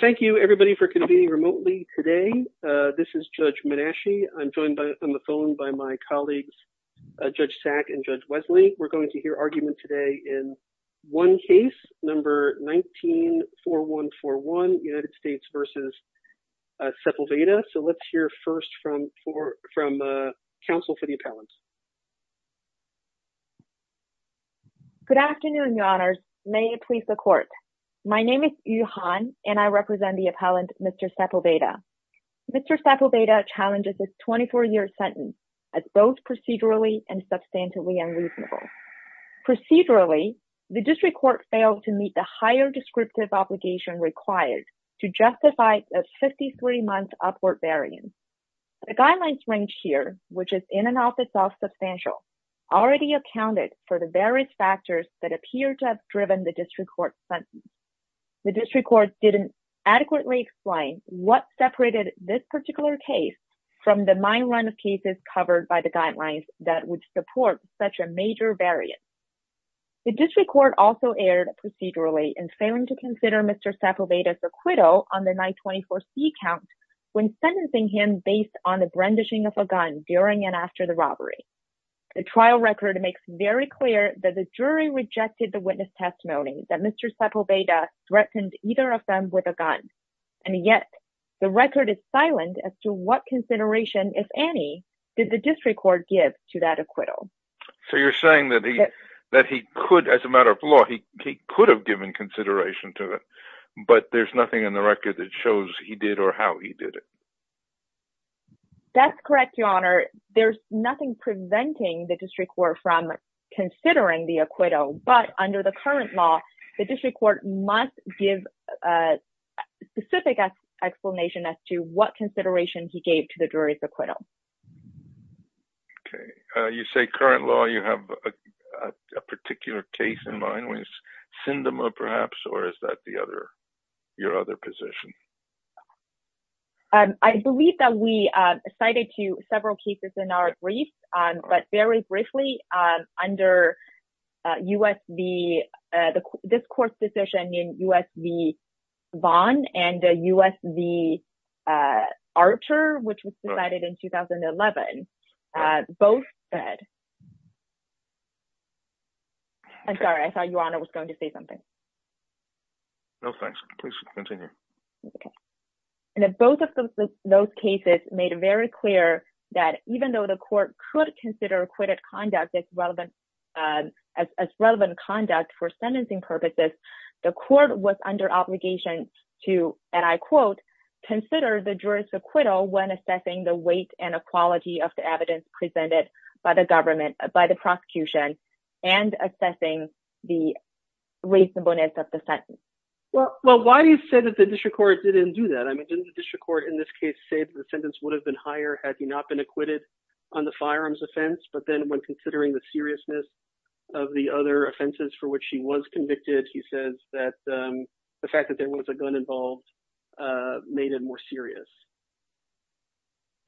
Thank you everybody for convening remotely today. This is Judge Menashe. I'm joined on the phone by my colleagues, Judge Sack and Judge Wesley. We're going to hear argument today in one case, number 19-4141, United States v. Sepulveda. So let's hear first from counsel for the appellants. Good afternoon, your honors. May it please the court. My name is Yu Han, and I represent the appellant, Mr. Sepulveda. Mr. Sepulveda challenges this 24-year sentence as both procedurally and substantively unreasonable. Procedurally, the district court failed to meet the higher descriptive obligation required to justify a 53-month upward variance. The guidelines range here, which is in and of itself substantial, already accounted for the various factors that appear to have driven the district court's sentence. The district court didn't adequately explain what separated this particular case from the mine run of cases covered by the guidelines that would support such a major variance. The district court also erred procedurally in failing to consider Mr. Sepulveda's acquittal on the 924c count when sentencing him based on the brandishing of a gun during and after the robbery. The trial record makes very clear that the jury rejected the witness testimony that Mr. Sepulveda threatened either of them with a gun. And yet, the record is silent as to what consideration, if any, did the district court give to that acquittal. So you're saying that he could, as a matter of law, he could have given consideration to it, but there's nothing in the record that shows he did or how he did it. That's correct, Your Honor. There's nothing preventing the district court from considering the acquittal, but under the current law, the district court must give a specific explanation as to what consideration he gave to the jury's acquittal. Okay. You say current law, you have a particular case in mind with Sindema, perhaps, or is that your other position? I believe that we cited several cases in our brief, but very briefly, under this court's decision in U.S. v. Vaughn and U.S. v. Archer, which was decided in 2011, both said... I'm sorry, I thought Your Honor was going to say something. No, thanks. Please continue. Both of those cases made it very clear that even though the court could consider acquitted conduct as relevant conduct for sentencing purposes, the court was under obligation to, and I quote, Well, why do you say that the district court didn't do that? I mean, didn't the district court in this case say that the sentence would have been higher had he not been acquitted on the firearms offense, but then when considering the seriousness of the other offenses for which he was convicted, he says that the fact that there was a gun involved made it more serious?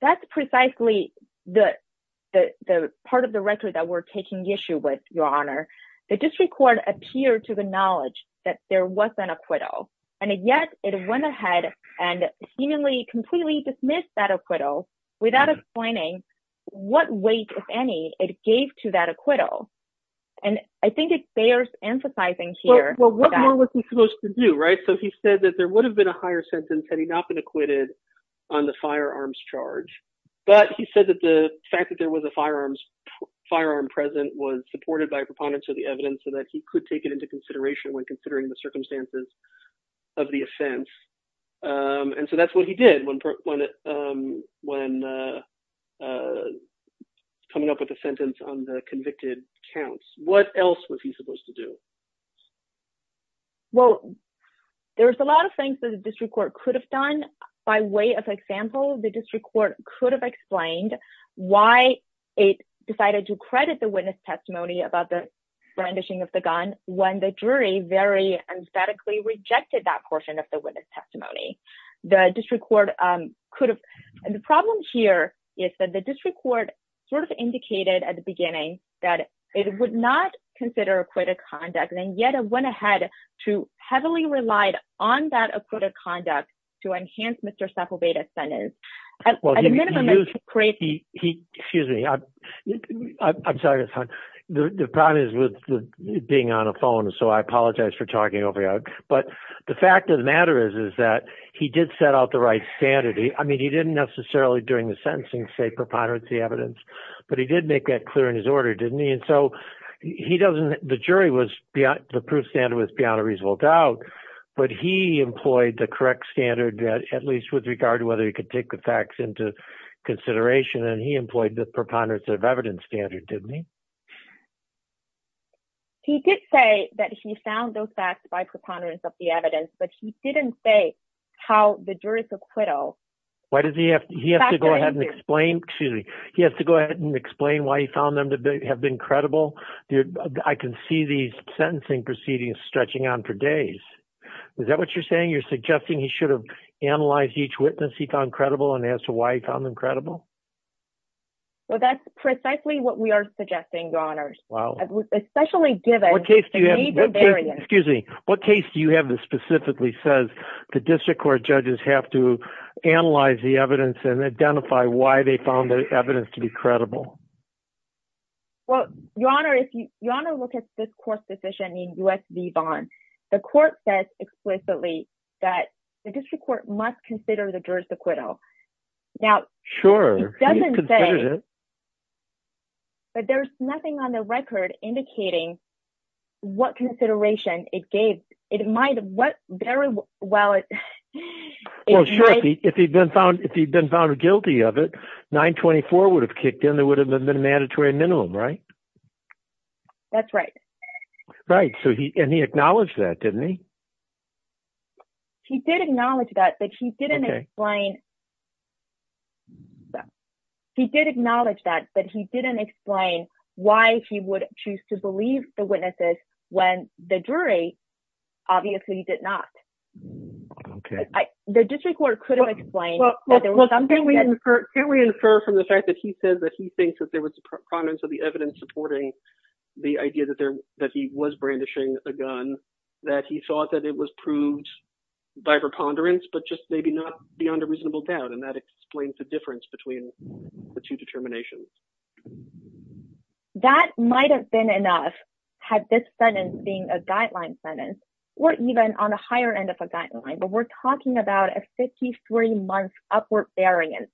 That's precisely the part of the record that we're taking issue with, Your Honor. The district court appeared to acknowledge that there was an acquittal, and yet it went ahead and seemingly completely dismissed that acquittal without explaining what weight, if any, it gave to that acquittal. And I think it bears emphasizing here... But he said that the fact that there was a firearm present was supported by proponents of the evidence so that he could take it into consideration when considering the circumstances of the offense. And so that's what he did when coming up with a sentence on the convicted counts. What else was he supposed to do? Well, there was a lot of things that the district court could have done. By way of example, the district court could have explained why it decided to credit the witness testimony about the brandishing of the gun when the jury very emphatically rejected that portion of the witness testimony. The district court could have... And the problem here is that the district court sort of indicated at the beginning that it would not consider acquitted conduct, and yet it went ahead to heavily relied on that acquitted conduct to enhance Mr. Sepulveda's sentence. Well, he used... Excuse me. I'm sorry. The problem is with being on a phone, so I apologize for talking over you. But the fact of the matter is, is that he did set out the right standard. I mean, he didn't necessarily during the sentencing say preponderance of the evidence, but he did make that clear in his order, didn't he? And so he doesn't... The jury was... The proof standard was beyond a reasonable doubt, but he employed the correct standard, at least with regard to whether he could take the facts into consideration, and he employed the preponderance of evidence standard, didn't he? He did say that he found those facts by preponderance of the evidence, but he didn't say how the jurors acquittal... Why does he have... He has to go ahead and explain... Excuse me. He has to go ahead and explain why he found them to have been credible. I can see these sentencing proceedings stretching on for days. Is that what you're saying? You're suggesting he should have analyzed each witness he found credible and as to why he found them credible? Well, that's precisely what we are suggesting, Your Honors, especially given... What case do you have... Excuse me. What case do you have that specifically says the district court judges have to analyze the evidence and identify why they found the evidence to be credible? Well, Your Honor, if you... Your Honor, look at this court's decision in U.S. v. Vaughan. The court says explicitly that the district court must consider the jurors acquittal. Now, it doesn't say... Sure, he considered it. But there's nothing on the record indicating what consideration it gave... It might have... What... Very well, it... Well, sure. If he'd been found guilty of it, 924 would have kicked in. There would have been a mandatory minimum, right? That's right. Right. So he... And he acknowledged that, didn't he? He did acknowledge that, but he didn't explain... Okay. He did acknowledge that, but he didn't explain why he would choose to believe the witnesses when the jury obviously did not. Okay. The district court could have explained that there was something... Well, can we infer from the fact that he says that he thinks that there was prominence of the evidence supporting the idea that he was brandishing a gun, that he thought that it was proved by preponderance, but just maybe not beyond a reasonable doubt, and that explains the difference between the two determinations. That might have been enough had this sentence being a guideline sentence, or even on a higher end of a guideline, but we're talking about a 53-month upward variance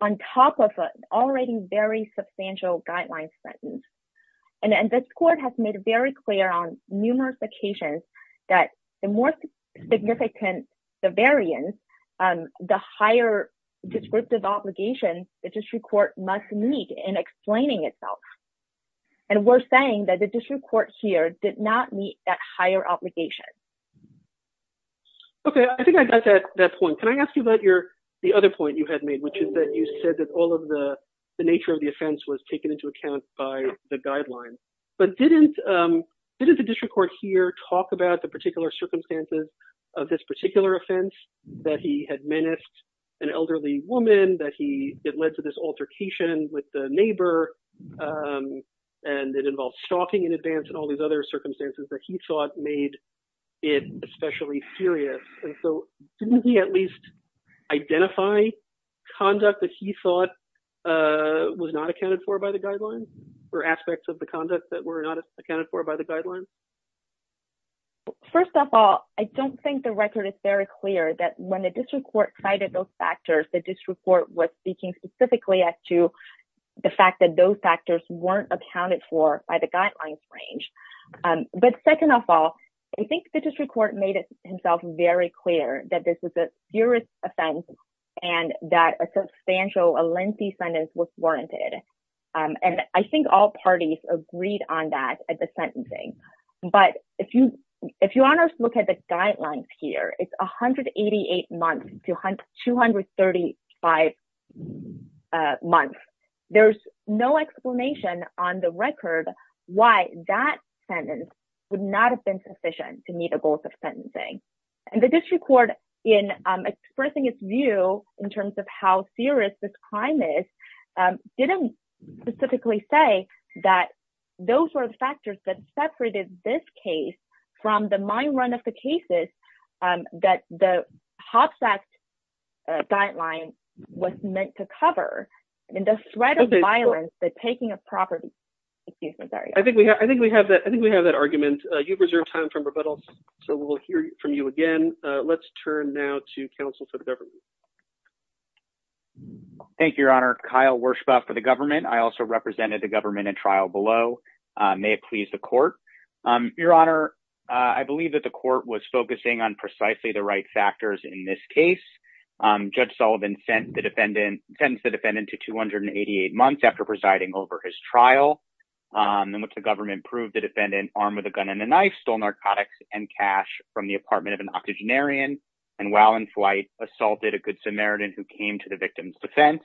on top of an already very substantial guideline sentence. And this court has made it very clear on numerous occasions that the more significant the variance, the higher descriptive obligation the district court must meet in explaining itself. And we're saying that the district court here did not meet that higher obligation. Okay. I think I got that point. Can I ask you about the other point you had made, which is that you said that all of the nature of the offense was taken into account by the guidelines, but didn't the district court here talk about the particular circumstances of this particular offense, that he had menaced an elderly woman, that it led to this altercation with the neighbor, and it involved stalking in advance and all these other circumstances that he thought made it especially serious. And so, didn't he at least identify conduct that he thought was not accounted for by the guidelines, or aspects of the conduct that were not accounted for by the guidelines? First of all, I don't think the record is very clear that when the district court cited those factors, the district court was speaking specifically as to the fact that those factors weren't accounted for by the guidelines range. But second of all, I think the district court made himself very clear that this was a serious offense and that a substantial, a lengthy sentence was warranted. And I think all parties agreed on that at the sentencing. But if you want to look at the guidelines here, it's 188 months to 235 months. There's no explanation on the record why that sentence would not have been sufficient to meet the goals of sentencing. And the district court, in expressing its view in terms of how serious this crime is, didn't specifically say that those were the factors that separated this case from the main run of the cases that the HOPS Act guideline was meant to cover. I think we have that argument. You've reserved time for rebuttals, so we'll hear from you again. Let's turn now to counsel for the government. Thank you, Your Honor. Kyle Werschbach for the government. I also represented the government in trial below. May it please the court. Your Honor, I believe that the court was focusing on precisely the right factors in this case. Judge Sullivan sends the defendant to 288 months after presiding over his trial in which the government proved the defendant armed with a gun and a knife, stole narcotics and cash from the apartment of an octogenarian, and while in flight, assaulted a Good Samaritan who came to the victim's defense.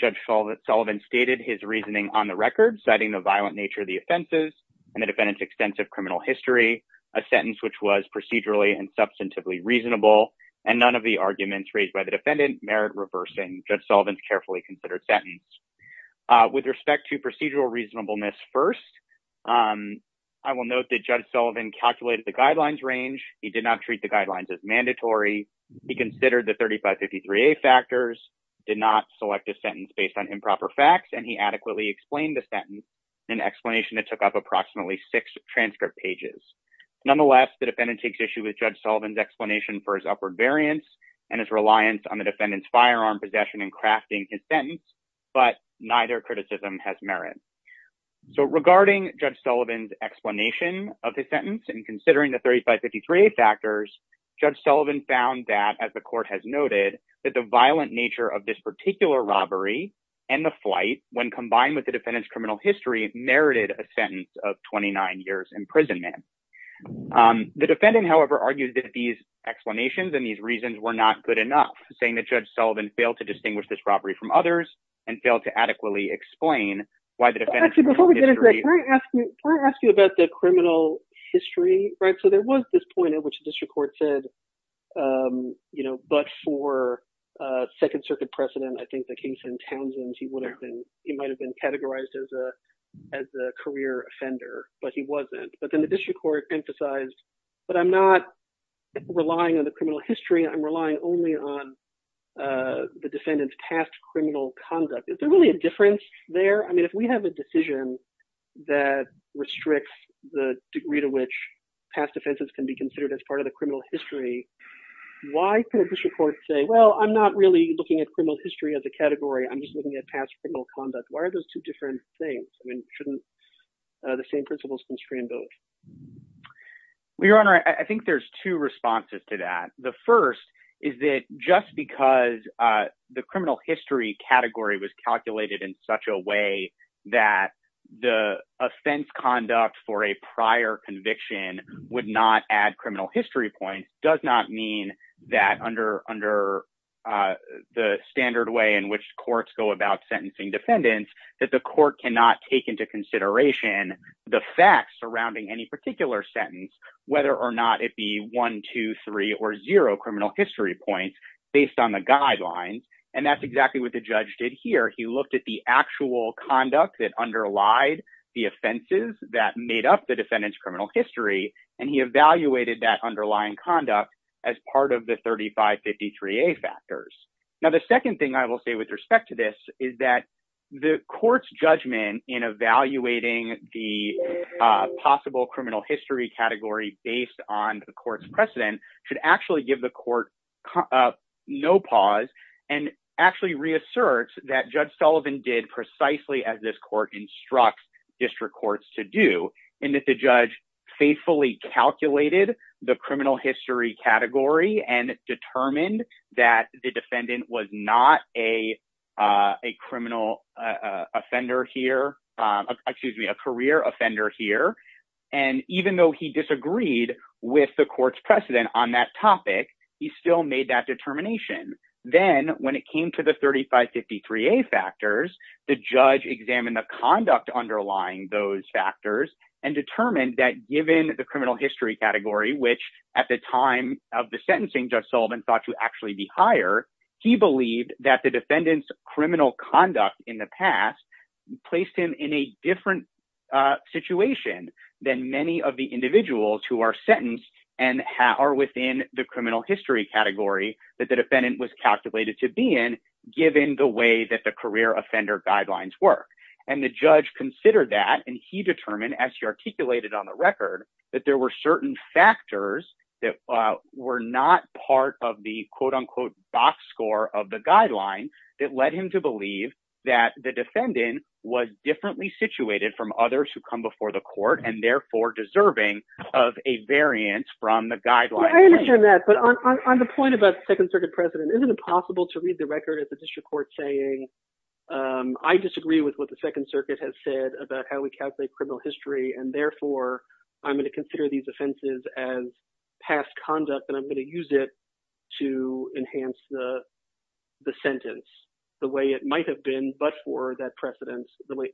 Judge Sullivan stated his reasoning on the record, citing the violent nature of the offenses and the defendant's extensive criminal history, a sentence which was procedurally and substantively reasonable, and none of the arguments raised by the defendant merit reversing Judge Sullivan's carefully considered sentence. With respect to procedural reasonableness first, I will note that Judge Sullivan calculated the guidelines range. He did not treat the guidelines as mandatory. He considered the 3553A factors, did not select a sentence based on improper facts, and he adequately explained the sentence in an explanation that took up approximately six transcript pages. Nonetheless, the defendant takes issue with Judge Sullivan's explanation for his upward variance and his reliance on the defendant's firearm possession in crafting his sentence, but neither criticism has merit. So regarding Judge Sullivan's explanation of the sentence and considering the 3553A factors, Judge Sullivan found that, as the court has noted, that the violent nature of this particular robbery and the flight, when combined with the defendant's criminal history, merited a sentence of 29 years imprisonment. The defendant, however, argued that these explanations and these reasons were not good enough, saying that Judge Sullivan failed to distinguish this robbery from others and failed to adequately explain why the defendant's criminal history… Actually, before we get into that, can I ask you about the criminal history? Right? So there was this point at which the district court said, you know, but for Second Circuit precedent, I think the case in Townsend, he would have been – he might have been categorized as a career offender, but he wasn't. But then the district court emphasized, but I'm not relying on the criminal history. I'm relying only on the defendant's past criminal conduct. Is there really a difference there? I mean, if we have a decision that restricts the degree to which past offenses can be considered as part of the criminal history, why could a district court say, well, I'm not really looking at criminal history as a category. I'm just looking at past criminal conduct. Why are those two different things? I mean, shouldn't the same principles constrain both? Your Honor, I think there's two responses to that. The first is that just because the criminal history category was calculated in such a way that the offense conduct for a prior conviction would not add criminal history points does not mean that under the standard way in which courts go about sentencing defendants, that the court cannot take into consideration the facts surrounding any particular sentence, whether or not it be one, two, three, or zero criminal history points based on the guidelines. And that's exactly what the judge did here. He looked at the actual conduct that underlied the offenses that made up the defendant's criminal history, and he evaluated that underlying conduct as part of the 3553A factors. Now, the second thing I will say with respect to this is that the court's judgment in evaluating the possible criminal history category based on the court's precedent should actually give the court no pause and actually reassert that Judge Sullivan did precisely as this court instructs district courts to do, and that the judge faithfully calculated the criminal history category and determined that the defendant was not a criminal offender here. Excuse me, a career offender here. And even though he disagreed with the court's precedent on that topic, he still made that determination. Then when it came to the 3553A factors, the judge examined the conduct underlying those factors and determined that given the criminal history category, which at the time of the sentencing Judge Sullivan thought to actually be higher, he believed that the defendant's criminal conduct in the past placed him in a different situation than many of the individuals who are sentenced and are within the criminal history category that the defendant was calculated to be in, given the way that the career offender guidelines work. And the judge considered that, and he determined, as he articulated on the record, that there were certain factors that were not part of the quote-unquote box score of the guideline that led him to believe that the defendant was differently situated from others who come before the court and therefore deserving of a variance from the guideline. I understand that, but on the point about the Second Circuit precedent, isn't it possible to read the record of the district court saying, I disagree with what the Second Circuit has said about how we calculate criminal history, and therefore I'm going to consider these offenses as past conduct, and I'm going to use it to enhance the sentence the way it might have been but for that precedent?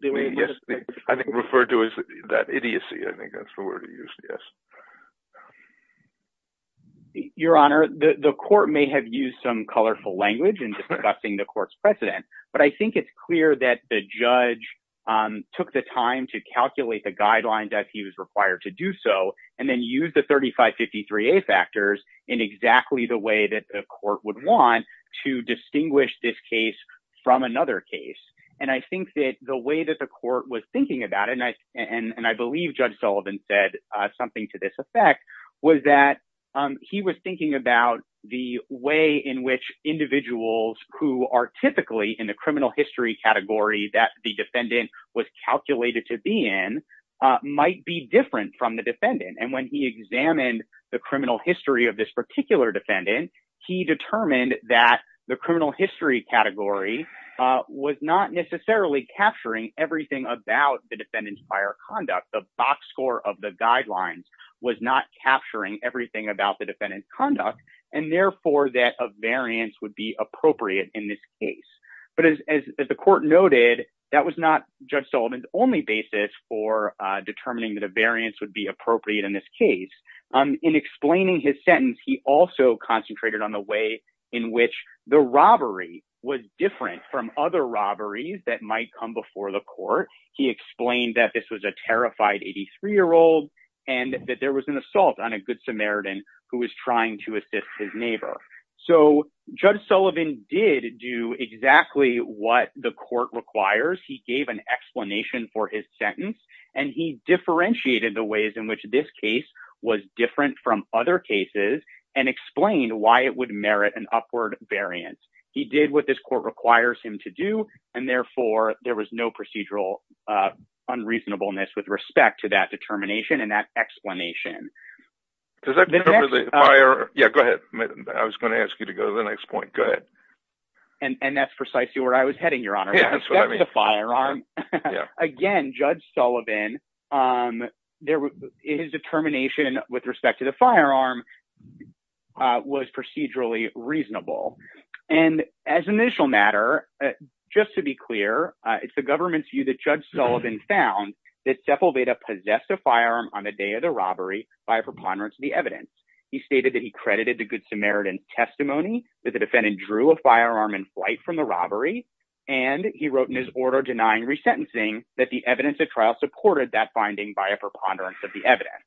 Yes, I think referred to as that idiocy, I think that's the word he used, yes. The way that the court was thinking about it, and I believe Judge Sullivan said something to this effect, was that he was thinking about the way in which individuals who are typically in the criminal history category that the defendant was calculated to be in might be different from the defendant. And when he examined the criminal history of this particular defendant, he determined that the criminal history category was not necessarily capturing everything about the defendant's prior conduct, the box score of the guidelines was not capturing everything about the defendant's conduct, and therefore that a variance would be appropriate in this case. But as the court noted, that was not Judge Sullivan's only basis for determining that a variance would be appropriate in this case. In explaining his sentence, he also concentrated on the way in which the robbery was different from other robberies that might come before the court. He explained that this was a terrified 83-year-old, and that there was an assault on a good Samaritan who was trying to assist his neighbor. So, Judge Sullivan did do exactly what the court requires, he gave an explanation for his sentence, and he differentiated the ways in which this case was different from other cases, and explained why it would merit an upward variance. He did what this court requires him to do, and therefore there was no procedural unreasonableness with respect to that determination and that explanation. Does that cover the firearm? Yeah, go ahead. I was going to ask you to go to the next point. Go ahead. And that's precisely where I was heading, Your Honor. Yeah, that's what I mean. Again, Judge Sullivan, his determination with respect to the firearm was procedurally reasonable. And as an initial matter, just to be clear, it's the government's view that Judge Sullivan found that Sepulveda possessed a firearm on the day of the robbery by a preponderance of the evidence. He stated that he credited the good Samaritan's testimony that the defendant drew a firearm in flight from the robbery, and he wrote in his order denying resentencing that the evidence of trial supported that finding by a preponderance of the evidence.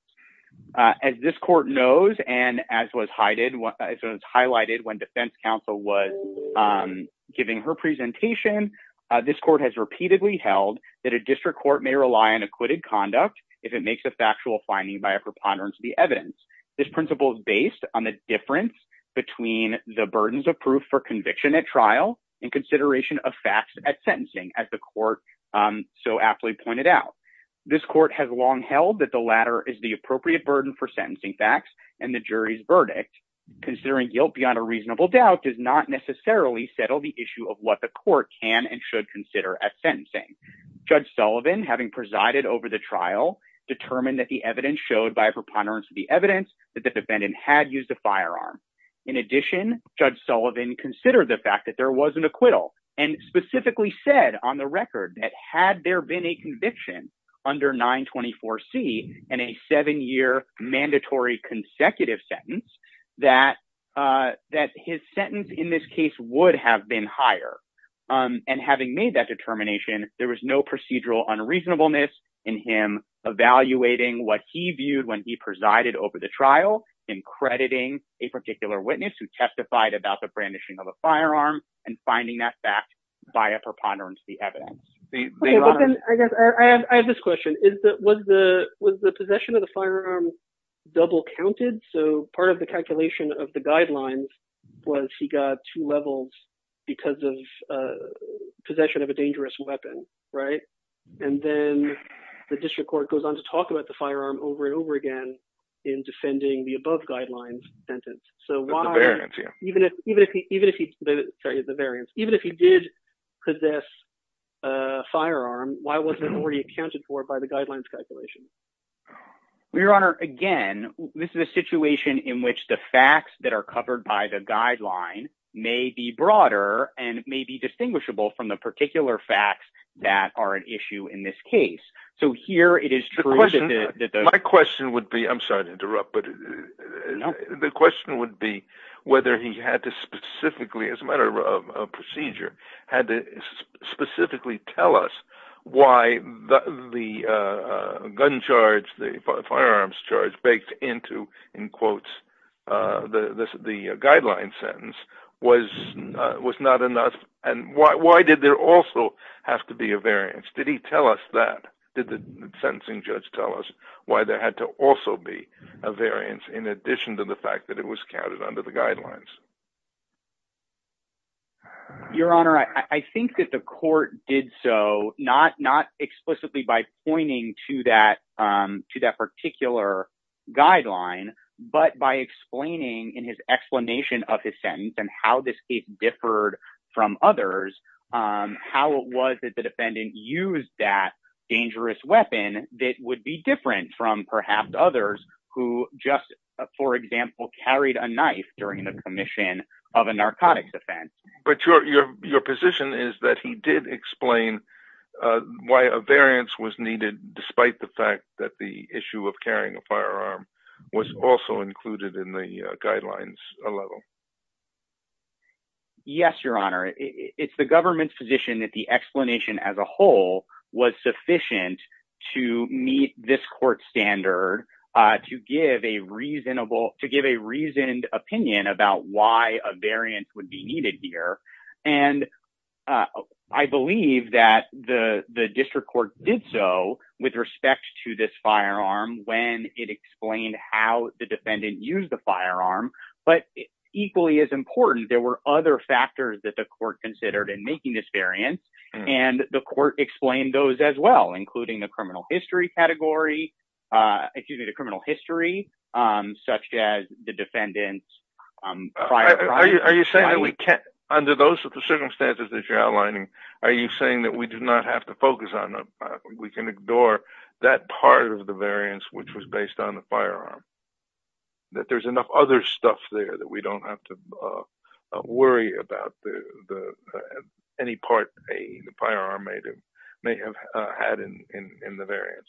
As this court knows, and as was highlighted when defense counsel was giving her presentation, this court has repeatedly held that a district court may rely on acquitted conduct if it makes a factual finding by a preponderance of the evidence. This principle is based on the difference between the burdens of proof for conviction at trial and consideration of facts at sentencing, as the court so aptly pointed out. This court has long held that the latter is the appropriate burden for sentencing facts, and the jury's verdict, considering guilt beyond a reasonable doubt, does not necessarily settle the issue of what the court can and should consider at sentencing. Judge Sullivan, having presided over the trial, determined that the evidence showed by a preponderance of the evidence that the defendant had used a firearm. In addition, Judge Sullivan considered the fact that there was an acquittal, and specifically said on the record that had there been a conviction under 924C and a seven-year mandatory consecutive sentence, that his sentence in this case would have been higher. And having made that determination, there was no procedural unreasonableness in him evaluating what he viewed when he presided over the trial, in crediting a particular witness who testified about the brandishing of a firearm, and finding that fact via preponderance of the evidence. I have this question. Was the possession of the firearm double counted? So part of the calculation of the guidelines was he got two levels because of possession of a dangerous weapon, right? And then the district court goes on to talk about the firearm over and over again in defending the above guidelines sentence. So why, even if he did possess a firearm, why wasn't it already accounted for by the guidelines calculation? Your Honor, again, this is a situation in which the facts that are covered by the guideline may be broader and may be distinguishable from the particular facts that are an issue in this case. My question would be, I'm sorry to interrupt, but the question would be whether he had to specifically, as a matter of procedure, had to specifically tell us why the firearms charge baked into the guideline sentence was not enough, and why did there also have to be a variance? Did he tell us that? Did the sentencing judge tell us why there had to also be a variance in addition to the fact that it was counted under the guidelines? Your Honor, I think that the court did so not explicitly by pointing to that particular guideline, but by explaining in his explanation of his sentence and how this case differed from others, how it was that the defendant used that dangerous weapon that would be different from perhaps others who just, for example, carried a knife during the commission. But your position is that he did explain why a variance was needed despite the fact that the issue of carrying a firearm was also included in the guidelines level. Yes, Your Honor, it's the government's position that the explanation as a whole was sufficient to meet this court standard to give a reasonable to give a reasoned opinion about why a variance would be needed here. And I believe that the district court did so with respect to this firearm when it explained how the defendant used the firearm. But equally as important, there were other factors that the court considered in making this variance, and the court explained those as well, including the criminal history category, excuse me, the criminal history, such as the defendant's prior crime. Under those circumstances that you're outlining, are you saying that we do not have to focus on, we can ignore that part of the variance which was based on the firearm? That there's enough other stuff there that we don't have to worry about any part a firearm may have had in the variance?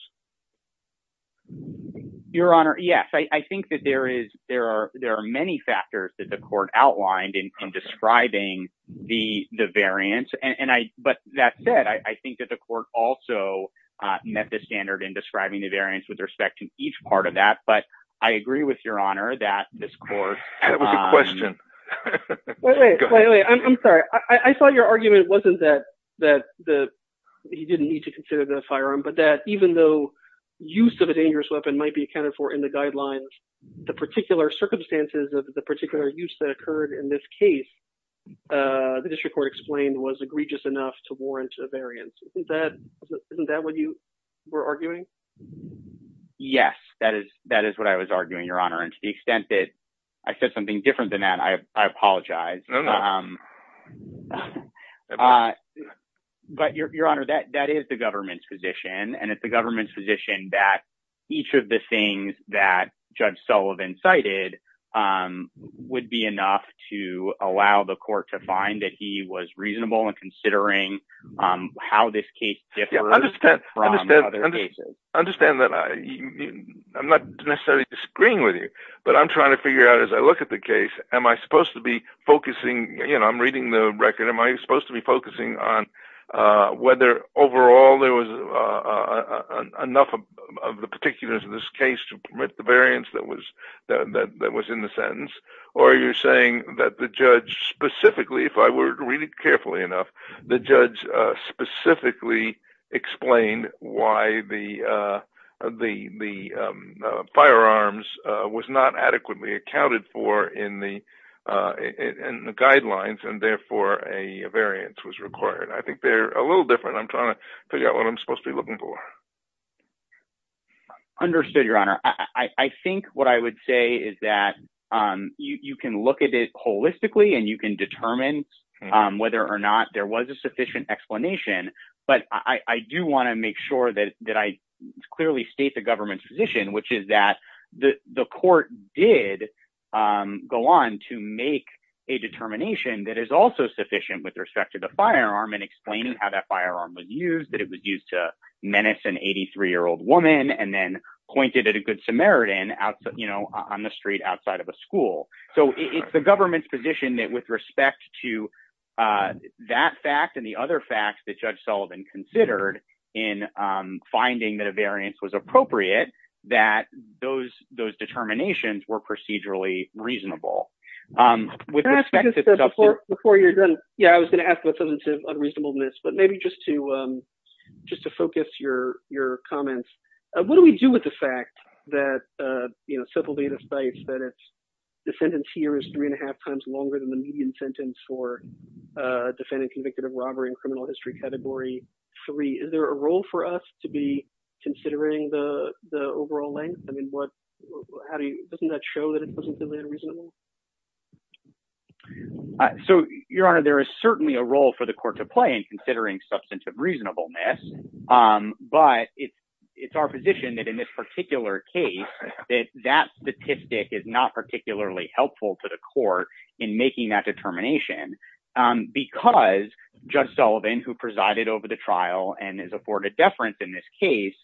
Your Honor, yes, I think that there are many factors that the court outlined in describing the variance. But that said, I think that the court also met the standard in describing the variance with respect to each part of that. But I agree with Your Honor that this court... That was a good question. Wait, wait, I'm sorry. I thought your argument wasn't that he didn't need to consider the firearm, but that even though use of a dangerous weapon might be accounted for in the guidelines, the particular circumstances of the particular use that occurred in this case, the district court explained was egregious enough to warrant a variance. Isn't that what you were arguing? Yes, that is what I was arguing, Your Honor. And to the extent that I said something different than that, I apologize. But Your Honor, that is the government's position, and it's the government's position that each of the things that Judge Sullivan cited would be enough to allow the court to find that he was reasonable in considering how this case differs from other cases. I understand that I'm not necessarily disagreeing with you, but I'm trying to figure out as I look at the case, am I supposed to be focusing... You know, I'm reading the record. Am I supposed to be focusing on whether overall there was enough of the particulars of this case to permit the variance that was in the sentence? Or are you saying that the judge specifically, if I were to read it carefully enough, the judge specifically explained why the firearms was not adequately accounted for in the guidelines, and therefore a variance was required? I think they're a little different. I'm trying to figure out what I'm supposed to be looking for. Understood, Your Honor. I think what I would say is that you can look at it holistically and you can determine whether or not there was a sufficient explanation. But I do want to make sure that I clearly state the government's position, which is that the court did go on to make a determination that is also sufficient with respect to the firearm and explaining how that firearm was used, that it was used to menace an 83-year-old woman and then pointed at a good Samaritan on the street outside of a school. So it's the government's position that with respect to that fact and the other facts that Judge Sullivan considered in finding that a variance was appropriate, that those determinations were procedurally reasonable. Before you're done, yeah, I was going to ask about substantive unreasonableness, but maybe just to focus your comments. What do we do with the fact that civil data states that a defendant's year is three and a half times longer than the median sentence for defending convicted of robbery in criminal history category three? Is there a role for us to be considering the overall length? I mean, what, how do you, doesn't that show that it was reasonably unreasonable? So, Your Honor, there is certainly a role for the court to play in considering substantive reasonableness. But it's our position that in this particular case that that statistic is not particularly helpful to the court in making that determination because Judge Sullivan, who presided over the trial and is afforded deference in this case,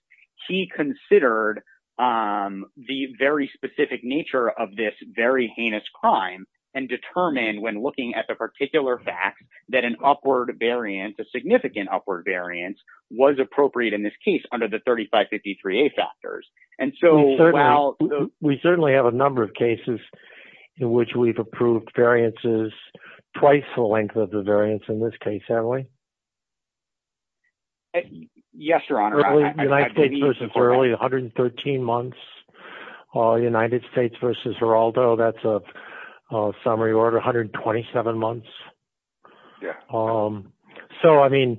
he considered the very specific nature of this very heinous crime and determined when looking at the particular fact that an upward variance, a significant upward variance, was appropriate in this case under the 3553A factors. And so, while... We certainly have a number of cases in which we've approved variances twice the length of the variance in this case, haven't we? Yes, Your Honor. United States v. Early, 113 months. United States v. Geraldo, that's a summary order, 127 months. So, I mean,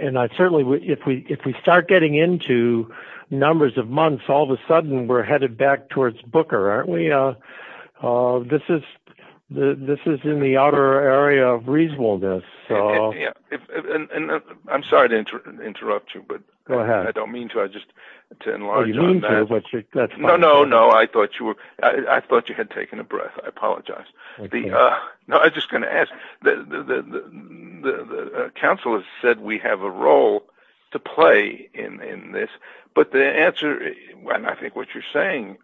and I certainly, if we start getting into numbers of months, all of a sudden we're headed back towards Booker, aren't we? This is in the outer area of reasonableness. And I'm sorry to interrupt you, but I don't mean to, I just... Oh, you mean to, but that's fine. No, no, no. I thought you were... I thought you had taken a breath. I apologize. No, I was just going to ask. The counsel has said we have a role to play in this, but the answer, and I think what you're saying,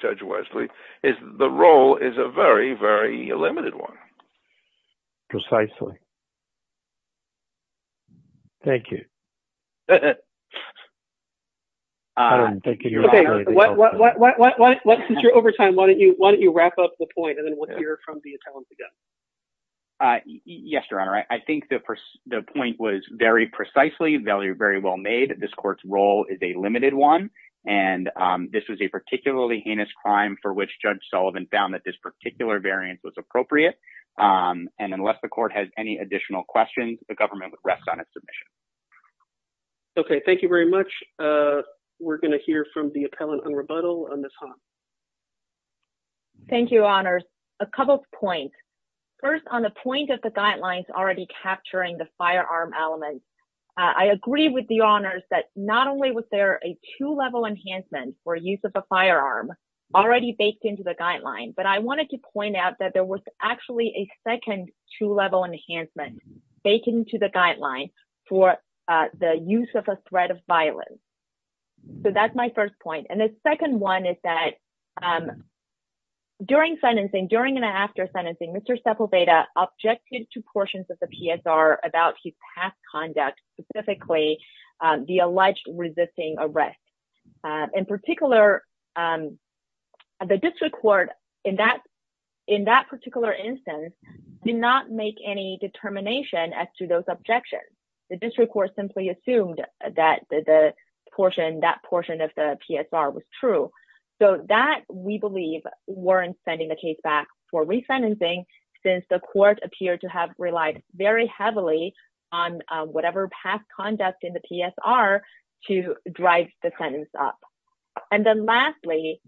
Judge Wesley, is the role is a very, very limited one. Precisely. Thank you. Since you're over time, why don't you wrap up the point and then we'll hear from the attorneys again. Yes, Your Honor. I think the point was very precisely, very well made. This court's role is a limited one. And this was a particularly heinous crime for which Judge Sullivan found that this particular variance was appropriate. And unless the court has any additional questions, the government would rest on its submission. Okay, thank you very much. We're going to hear from the appellant on rebuttal, Ms. Hahn. Thank you, Your Honors. A couple of points. First, on the point of the guidelines already capturing the firearm element, I agree with the Honors that not only was there a two-level enhancement for use of a firearm already baked into the guideline, but I wanted to point out that there was actually a second two-level enhancement baked into the guideline for the use of a threat of violence. So that's my first point. And the second one is that during sentencing, during and after sentencing, Mr. Sepulveda objected to portions of the PSR about his past conduct, specifically the alleged resisting arrest. In particular, the district court in that particular instance did not make any determination as to those objections. The district court simply assumed that that portion of the PSR was true. So that, we believe, weren't sending the case back for re-sentencing, since the court appeared to have relied very heavily on whatever past conduct in the PSR to drive the sentence up. And then lastly,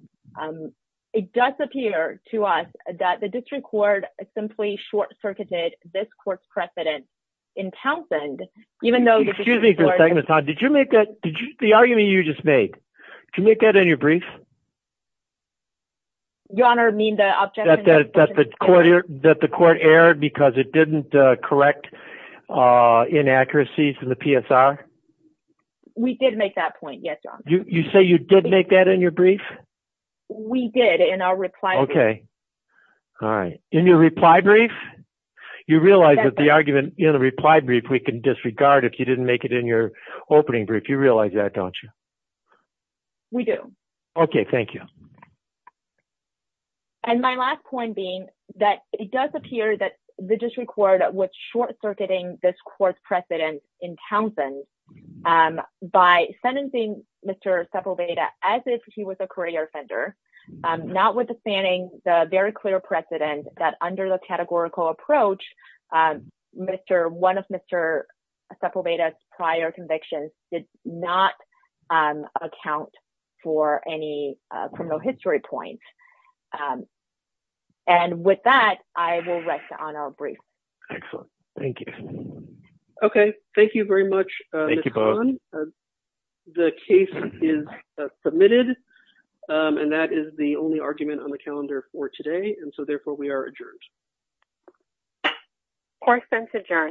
it does appear to us that the district court simply short-circuited this court's precedent in Townsend. Excuse me for a second, Ms. Todd. The argument you just made, did you make that in your brief? Your Honor, you mean the objection? That the court erred because it didn't correct inaccuracies in the PSR? We did make that point, yes, Your Honor. You did make that in your brief? We did in our reply brief. Okay. All right. In your reply brief? You realize that the argument in the reply brief we can disregard if you didn't make it in your opening brief. You realize that, don't you? We do. Okay, thank you. And my last point being that it does appear that the district court was short-circuiting this court's precedent in Townsend by sentencing Mr. Sepulveda as if he was a career offender, notwithstanding the very clear precedent that under the categorical approach, one of Mr. Sepulveda's prior convictions did not account for any criminal history points. And with that, I will rest on our brief. Excellent. Thank you. Okay. Thank you very much, Ms. Hahn. The case is submitted. And that is the only argument on the calendar for today. And so, therefore, we are adjourned. Court is adjourned.